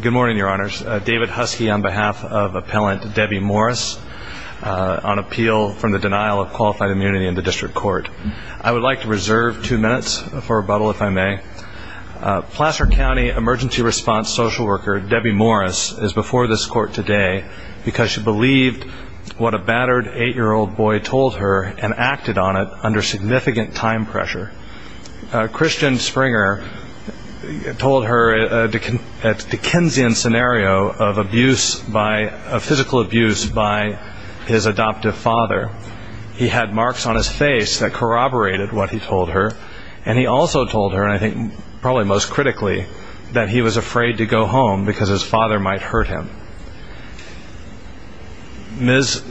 Good morning, your honors. David Husky on behalf of appellant Debbie Morris on appeal from the denial of qualified immunity in the district court. I would like to reserve two minutes for rebuttal if I may. Placer County emergency response social worker Debbie Morris is before this court today because she believed what a battered eight-year-old boy told her and acted on it under significant time pressure. Christian Springer told her a Dickensian scenario of abuse by a physical abuse by his adoptive father. He had marks on his face that corroborated what he told her and he also told her I think probably most critically that he was afraid to go home because his father might hurt him. Ms.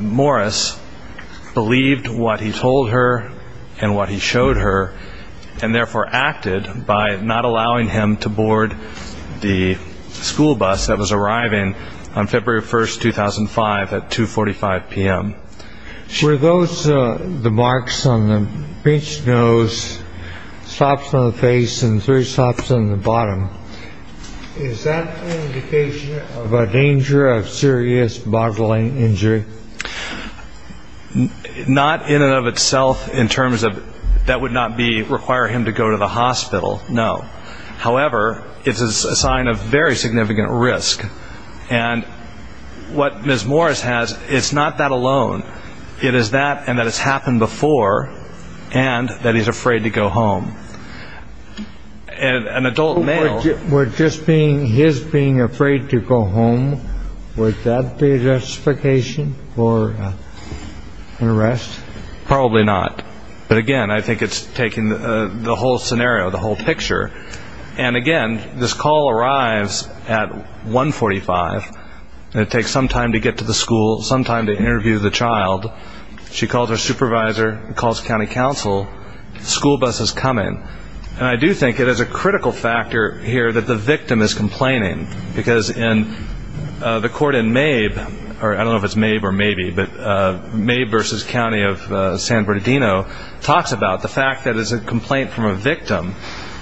Morris believed what he told her and what he showed her and therefore acted by not allowing him to board the school bus that was arriving on February 1st 2005 at 245 p.m. Were those the marks on the bitch nose, stops on the face and three stops on the of itself in terms of that would not require him to go to the hospital, no. However, it's a sign of very significant risk. And what Ms. Morris has, it's not that alone. It is that and that it's happened before and that he's afraid to go home. An adult male... Were just his being afraid to go home, would that be justification for an arrest? Probably not. But again, I think it's taking the whole scenario, the whole picture. And again, this call arrives at 145 and it takes some time to get to the school, some time to interview the child. She calls her supervisor, calls County Council, school bus is coming. And I do think it is a critical factor here that the victim is complaining because in the court in Mabe, I don't know if it's Mabe or maybe, but Mabe v. County of San Bernardino talks about the fact that it is a complaint from a victim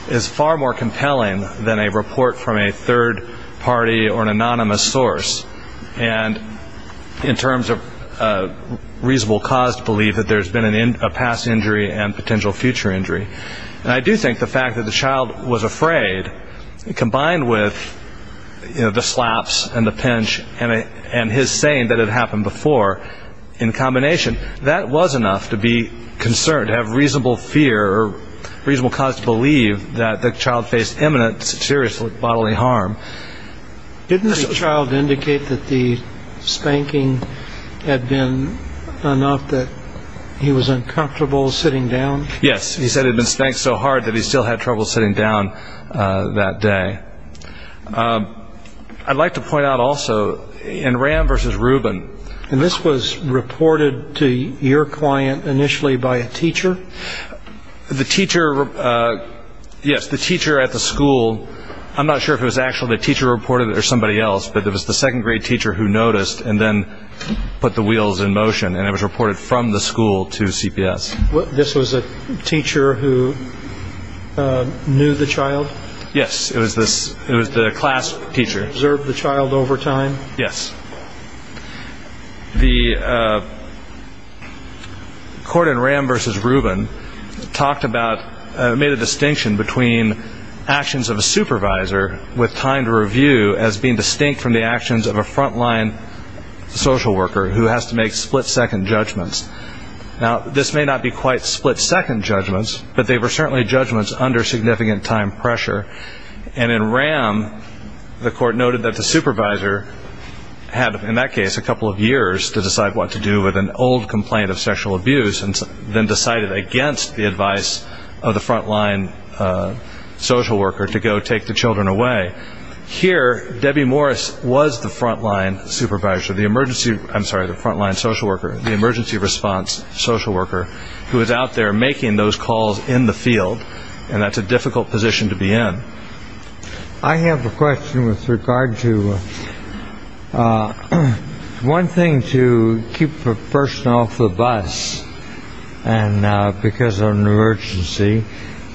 is far more compelling than a report from a third party or an anonymous source. And in terms of reasonable cause to believe that there's been a past injury and potential future injury. And I do think the fact that the child was afraid combined with the slaps and the pinch and his saying that it happened before in combination, that was enough to be concerned, to have reasonable fear or reasonable cause to believe that the child faced imminent, serious bodily harm. Didn't the child indicate that the spanking had been enough that he was uncomfortable sitting down? Yes, he said he'd been spanked so hard that he still had trouble sitting down that day. I'd like to point out also in Ram v. Rubin And this was reported to your client initially by a teacher? The teacher, yes, the teacher at the school, I'm not sure if it was actually the teacher reported it or somebody else, but it was the second grade teacher who noticed and then put the wheels in motion. And it was reported from the school to CPS. This was a teacher who knew the child? Yes, it was the class teacher. Observed the child over time? Yes. The court in Ram v. Rubin talked about, made a distinction between actions of a supervisor with time to review as being distinct from the actions of a frontline social worker who has to make split second judgments. Now, this may not be quite split second judgments, but they were certainly judgments under significant time pressure. And in Ram, the court noted that the supervisor had, in that case, a couple of years to decide what to do with an old complaint of sexual abuse and then decided against the advice of the frontline social worker to go take the children away. Here, Debbie Morris was the frontline supervisor, the emergency, I'm sorry, the emergency response social worker who was out there making those calls in the field. And that's a difficult position to be in. I have a question with regard to one thing to keep a person off the bus and because of an emergency,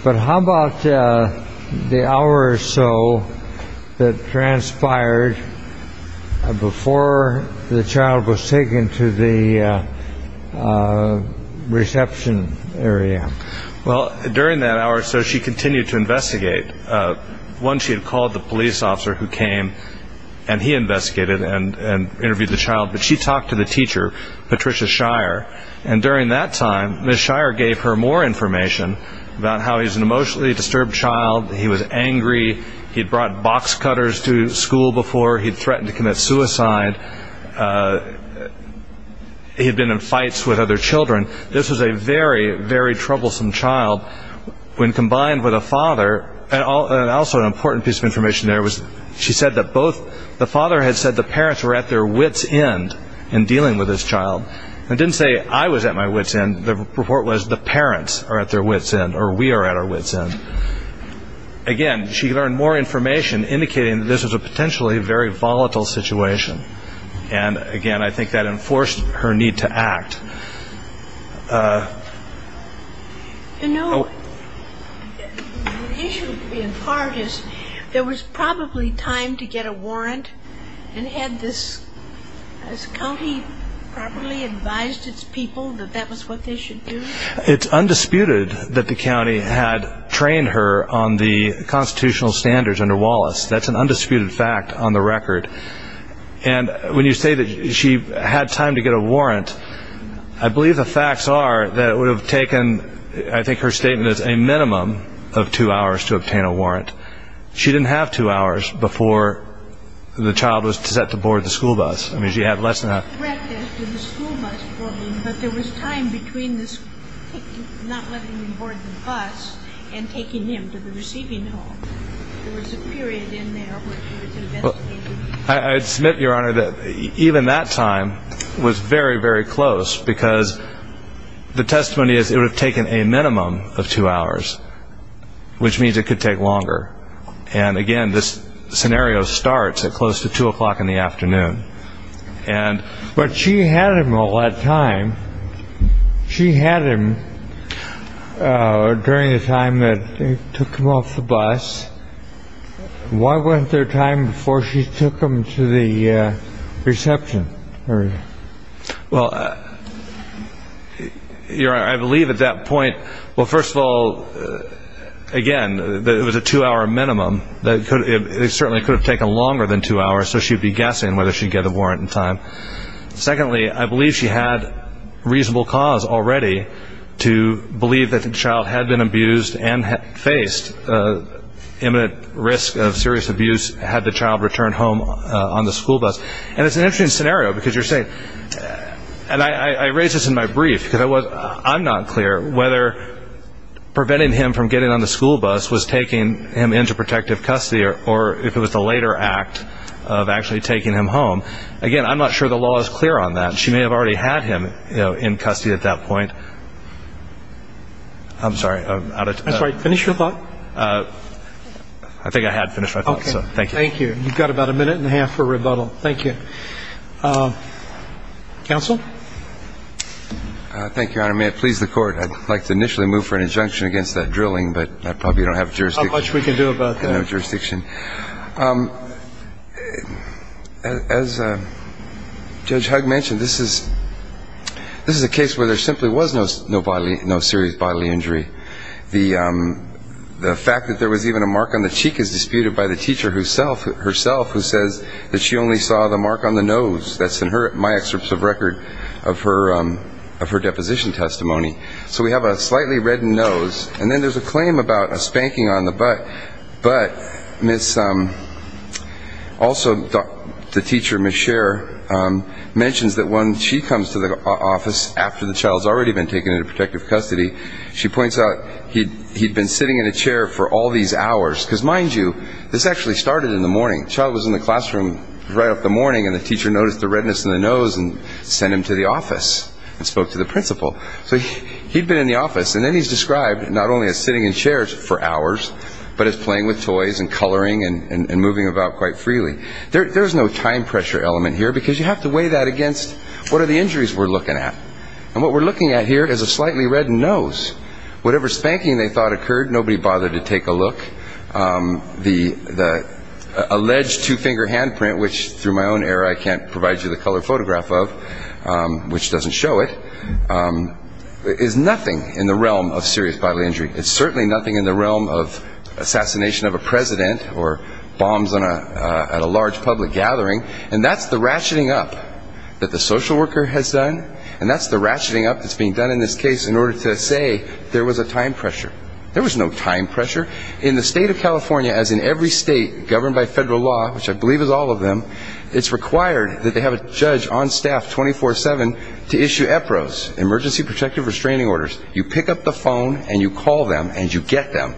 but how about the hour or so that transpired before the child was taken to the reception area? Well, during that hour or so, she continued to investigate. One, she had called the police officer who came and he investigated and interviewed the child. But she talked to the teacher, Patricia Shire. And during that time, Ms. Shire gave her more information about how he's an emotionally disturbed child. He was angry. He'd brought box cutters to school before. He'd threatened to commit suicide. He'd been in fights with other children. This was a very, very troublesome child when combined with a father. And also an important piece of information there was she said that both the father had said the parents were at their wits end in dealing with this child. And didn't say I was at my wits end. The report was the parents are at their wits end or we are at our wits end. Again, she learned more information indicating this was a potentially very volatile situation. And again, I think that enforced her need to act. You know, the issue in part is there was probably time to get a warrant and had this county properly advised its people that that was what they should do? It's undisputed that the county had trained her on the constitutional standards under Wallace. That's an undisputed fact on the record. And when you say that she had time to get a warrant, I believe the facts are that it would have taken I think her statement is a minimum of two hours to obtain a warrant to board the school bus. I mean, she had less than that. I read this in the school bus problem, but there was time between not letting him board the bus and taking him to the receiving hall. There was a period in there where she was investigating. I would submit, Your Honor, that even that time was very, very close because the testimony is it would have taken a minimum of two hours, which means it could take longer. And again, this scenario starts at close to 2 o'clock in the afternoon. But she had him all that time. She had him during the time that they took him off the bus. Why wasn't there time before she took him to the reception? Well, Your Honor, I believe at that point, well, first of all, again, it was a two-hour minimum. It certainly could have taken longer than two hours, so she would be guessing whether she would get a warrant in time. Secondly, I believe she had reasonable cause already to believe that the child had been abused and faced imminent risk of serious abuse had the child returned home on the school bus. And it's an interesting scenario because you're saying, and I raise this in my brief because I'm not clear whether preventing him from getting on the school bus was taking him into protective custody or if it was the later act of actually taking him home. Again, I'm not sure the law is clear on that. She may have already had him in custody at that point. I'm sorry. That's all right. Finish your thought. I think I had finished my thought, so thank you. Thank you. You've got about a minute and a half for rebuttal. Thank you. Counsel? Thank you, Your Honor. May it please the court, I'd like to initially move for an injunction against that drilling, but I probably don't have jurisdiction. How much we can do about that? No jurisdiction. As Judge Hugg mentioned, this is a case where there simply was no bodily, no serious bodily injury. The fact that there was even a mark on the cheek is disputed by the teacher herself who says that she only saw the mark on the nose. That's in my excerpts of record of her deposition testimony. So we have a slightly reddened nose, and then there's a claim about a spanking on the butt. But also the teacher, Ms. Scher, mentions that when she comes to the office after the child's already been taken into protective custody, she actually started in the morning. The child was in the classroom right up the morning, and the teacher noticed the redness in the nose and sent him to the office and spoke to the principal. So he'd been in the office, and then he's described not only as sitting in chairs for hours, but as playing with toys and coloring and moving about quite freely. There's no time pressure element here because you have to weigh that against what are the injuries we're looking at. And what we're looking at here is a slightly reddened nose. Whatever spanking they thought occurred, nobody bothered to take a look. The alleged two-finger handprint, which through my own error I can't provide you the color photograph of, which doesn't show it, is nothing in the realm of serious bodily injury. It's certainly nothing in the realm of assassination of a president or bombs at a large public gathering. And that's the ratcheting up that the social worker has done, and that's the ratcheting up that's being done in this case in order to say there was a time pressure. There was no time pressure. In the state of California, as in every state governed by federal law, which I believe is all of them, it's required that they have a judge on staff 24-7 to issue EPROs, emergency protective restraining orders. You pick up the phone and you call them and you get them.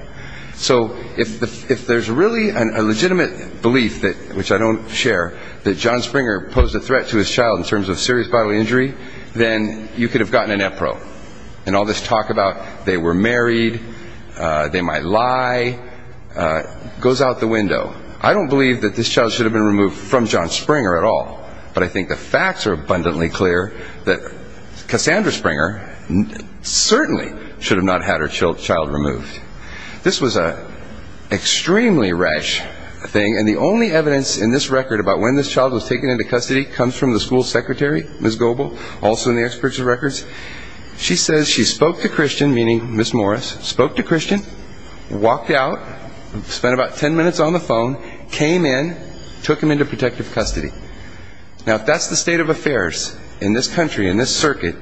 So if there's really a legitimate belief, which I don't share, that John Springer posed a threat to his child in terms of serious bodily injury, then you could have gotten an EPRO. And all this talk about they were married, they might lie goes out the window. I don't believe that this child should have been removed from John Springer at all, but I think the facts are abundantly clear that Cassandra Springer certainly should have not had her child removed. This was an extremely rash thing, and the only evidence in this record about when this child was taken into custody comes from the school secretary, Ms. Gobel, also in the experts' records. She says she spoke to Christian, meaning Ms. Morris, spoke to Christian, walked out, spent about ten minutes on the phone, came in, took him into protective custody. Now, if that's the state of affairs in this country, in this circuit,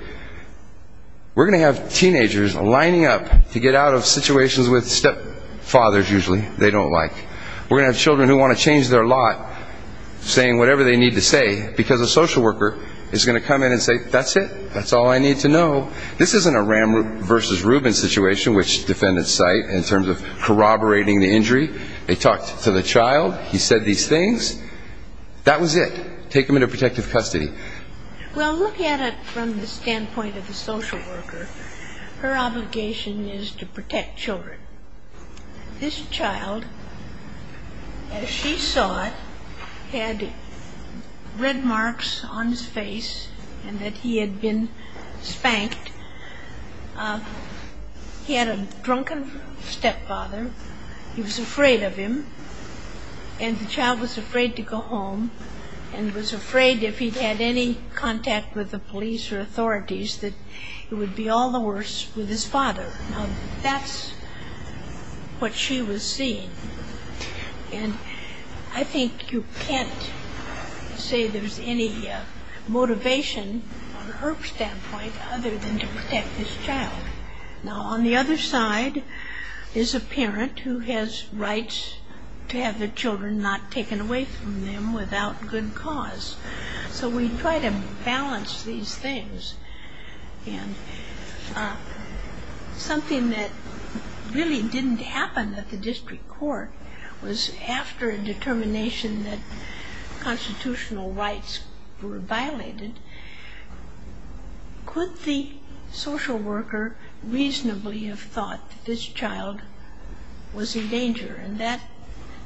we're going to have teenagers lining up to get out of situations with stepfathers, usually, they don't like. We're going to have them change their lot, saying whatever they need to say, because a social worker is going to come in and say, that's it, that's all I need to know. This isn't a Ram versus Rubin situation, which defendants cite, in terms of corroborating the injury. They talked to the child, he said these things, that was it. Take him into protective custody. Well, look at it from the standpoint of the social worker. Her obligation is to make sure that he saw it, had red marks on his face, and that he had been spanked. He had a drunken stepfather. He was afraid of him. And the child was afraid to go home, and was afraid if he'd had any contact with the police or authorities, that it would be all the worse with his father. Now, that's what she was seeing. And I think you can't say there's any motivation, from an IRP standpoint, other than to protect this child. Now, on the other side, there's a parent who has rights to have their children not taken away from them without good cause. So we try to balance these things. And something that really didn't happen at the district court was after a determination that constitutional rights were violated, could the social worker reasonably have thought that this child was in danger? And that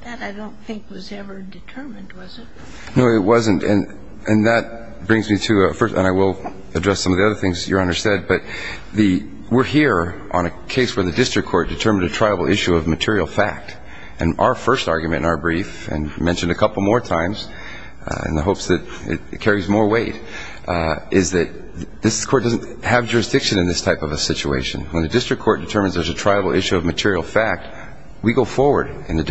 I don't think was ever determined, was it? No, it wasn't. And that brings me to a first, and I will address some of the other things Your Honor said, but we're here on a case where the district court determined a triable issue of material fact. And our first argument in our brief, and mentioned a couple more times in the hopes that it carries more weight, is that this court doesn't have jurisdiction in this type of a situation. When the district court determines there's a triable issue of material fact, we go forward in the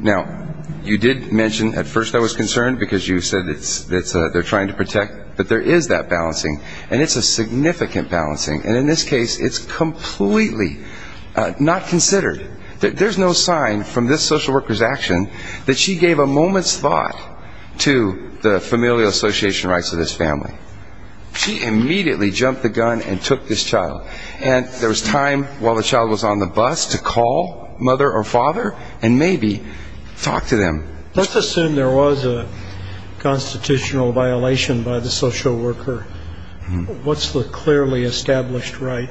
Now, you did mention at first I was concerned because you said they're trying to protect, but there is that balancing. And it's a significant balancing. And in this case, it's completely not considered. There's no sign from this social worker's action that she gave a moment's thought to the familial association rights of this family. She immediately jumped the gun and took this child. And there was time while the child was on the bus to call mother or father and maybe talk to them. Let's assume there was a constitutional violation by the social worker. What's the clearly established right?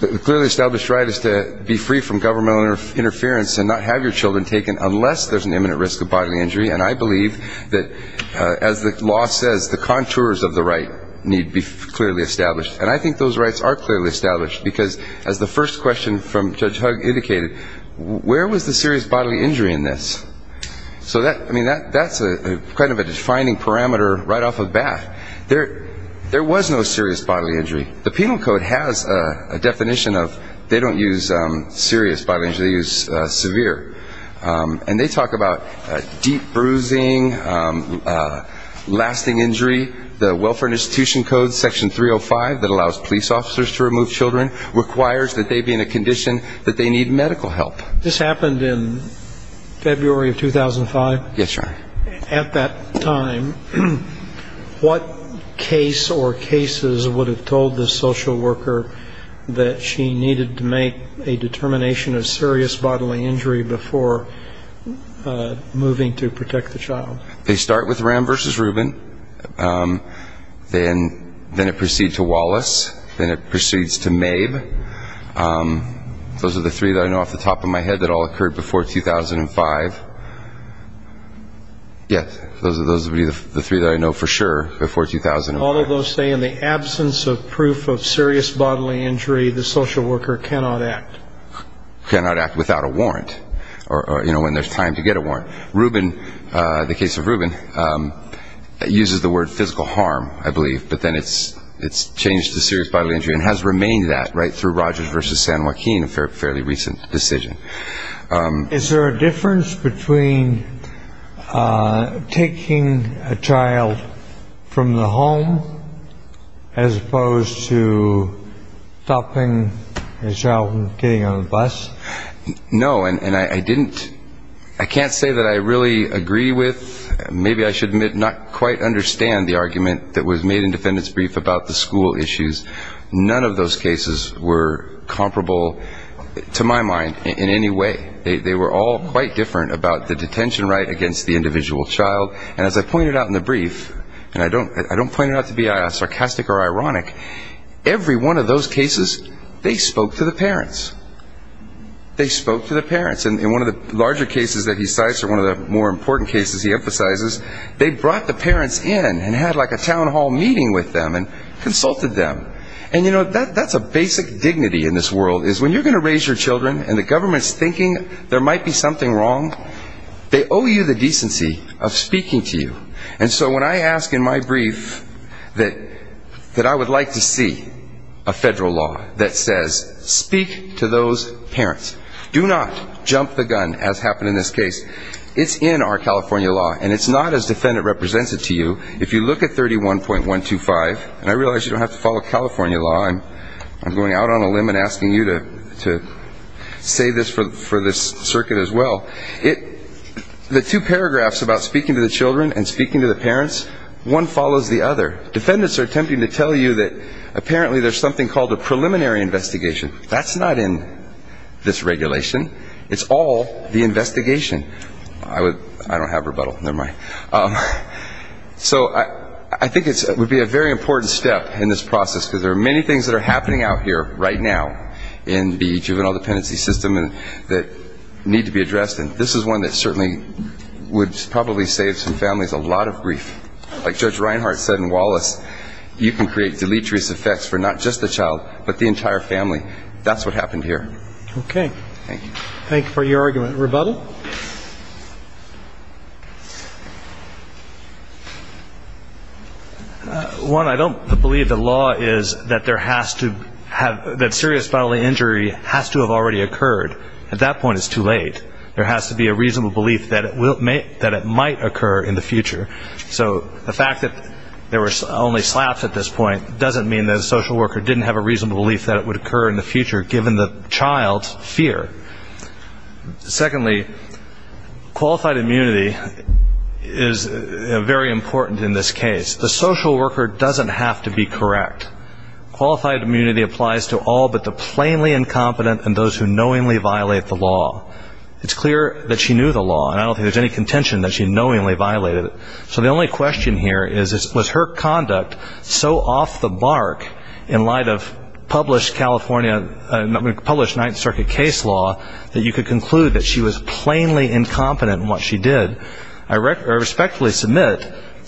The clearly established right is to be free from governmental interference and not have your children taken unless there's an imminent risk of bodily injury. And I believe that as the law says, the contours of the right need to be clearly established. And I think those rights are clearly established. Because as the first question from Judge Hugg indicated, where was the serious bodily injury in this? So that's kind of a defining parameter right off the bat. There was no serious bodily injury. The penal code has a definition of they don't use serious bodily injury. They use severe. And they talk about deep bruising, lasting injury. The welfare institution code section 305 that allows police officers to remove children requires that they be in a condition that they need medical help. This happened in February of 2005? Yes, Your Honor. At that time, what case or cases would have told the social worker that she needed to make a determination of serious bodily injury before moving to protect the child? They start with Ram versus Rubin. Then it proceeds to Wallace. Then it proceeds to Mabe. Those are the three that I know off the top of my head that all occurred before 2005. Yes, those would be the three that I know for sure before 2005. All of those say in the absence of proof of serious bodily injury, the social worker cannot act. Cannot act without a warrant. Or, you know, when there's time to get a warrant. Rubin, the case of Rubin, uses the word physical harm, I believe. But then it's changed to serious bodily injury and has remained that right through Rogers versus San Joaquin, a fairly recent decision. Is there a difference between taking a child from the home as opposed to stopping a child from getting on a bus? No. And I didn't ‑‑ I can't say that I really agree with, maybe I should admit not quite understand the argument that was made in defendant's brief about the school issues. None of those cases were comparable to my mind in any way. They were all quite different about the detention right against the individual child. And as I pointed out in the brief, and I don't point it out to be sarcastic or ironic, every one of those cases, they spoke to the parents. And one of the larger cases that he cites or one of the more important cases he emphasizes, they brought the parents in and had like a town hall meeting with them and consulted them. And, you know, that's a basic dignity in this world is when you're going to raise your children and the government's thinking there might be something wrong, they owe you the decency of speaking to you. And so when I ask in my brief that I would like to see a federal law that says speak to those parents. Do not jump the gun as happened in this case. It's in our California law, and it's not as defendant represents it to you. If you look at 31.125, and I realize you don't have to follow California law, I'm going out on a limb and asking you to say this for this circuit as well, the two paragraphs about speaking to the children and speaking to the parents, one follows the other. Defendants are attempting to tell you that apparently there's something called a child abuse. That's not in this regulation. It's all the investigation. I don't have rebuttal. Never mind. So I think it would be a very important step in this process because there are many things that are happening out here right now in the juvenile dependency system that need to be addressed, and this is one that certainly would probably save some families a lot of grief. Like Judge Reinhart said in Wallace, you can create deleterious effects for not just the child, but the entire family. That's what happened here. Okay. Thank you. Thank you for your argument. Rebuttal? One, I don't believe the law is that there has to have the serious bodily injury has to have already occurred. At that point, it's too late. There has to be a reasonable belief that it might occur in the future. So the fact that there were only slaps at this point doesn't mean that a social worker didn't have a reasonable belief that it would occur in the future, given the child's fear. Secondly, qualified immunity is very important in this case. The social worker doesn't have to be correct. Qualified immunity applies to all but the plainly incompetent and those who knowingly violate the law. It's clear that she knew the law, and I don't think there's any contention that she knowingly violated it. So the only question here is, was her conduct so off the mark in light of published California, published Ninth Circuit case law that you could conclude that she was plainly incompetent in what she did? I respectfully submit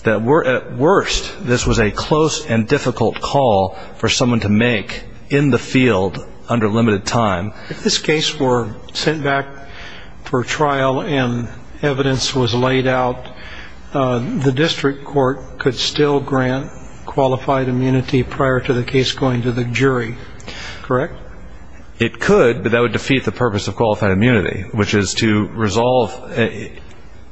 that at worst, this was a close and difficult call for someone to make in the field under limited time. If this case were sent back for trial and evidence was laid out, the district court could still grant qualified immunity prior to the case going to the jury, correct? It could, but that would defeat the purpose of qualified immunity, which is to resolve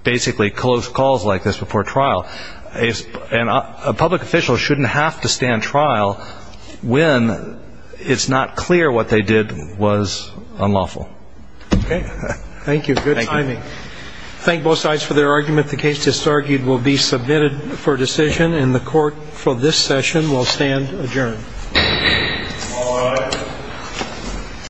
basically close calls like this before trial. And a public official shouldn't have to stand trial when it's not clear what they did was unlawful. Okay. Thank you. Good timing. Thank both sides for their argument. The case disargued will be submitted for decision, and the court for this session will stand adjourned. All rise.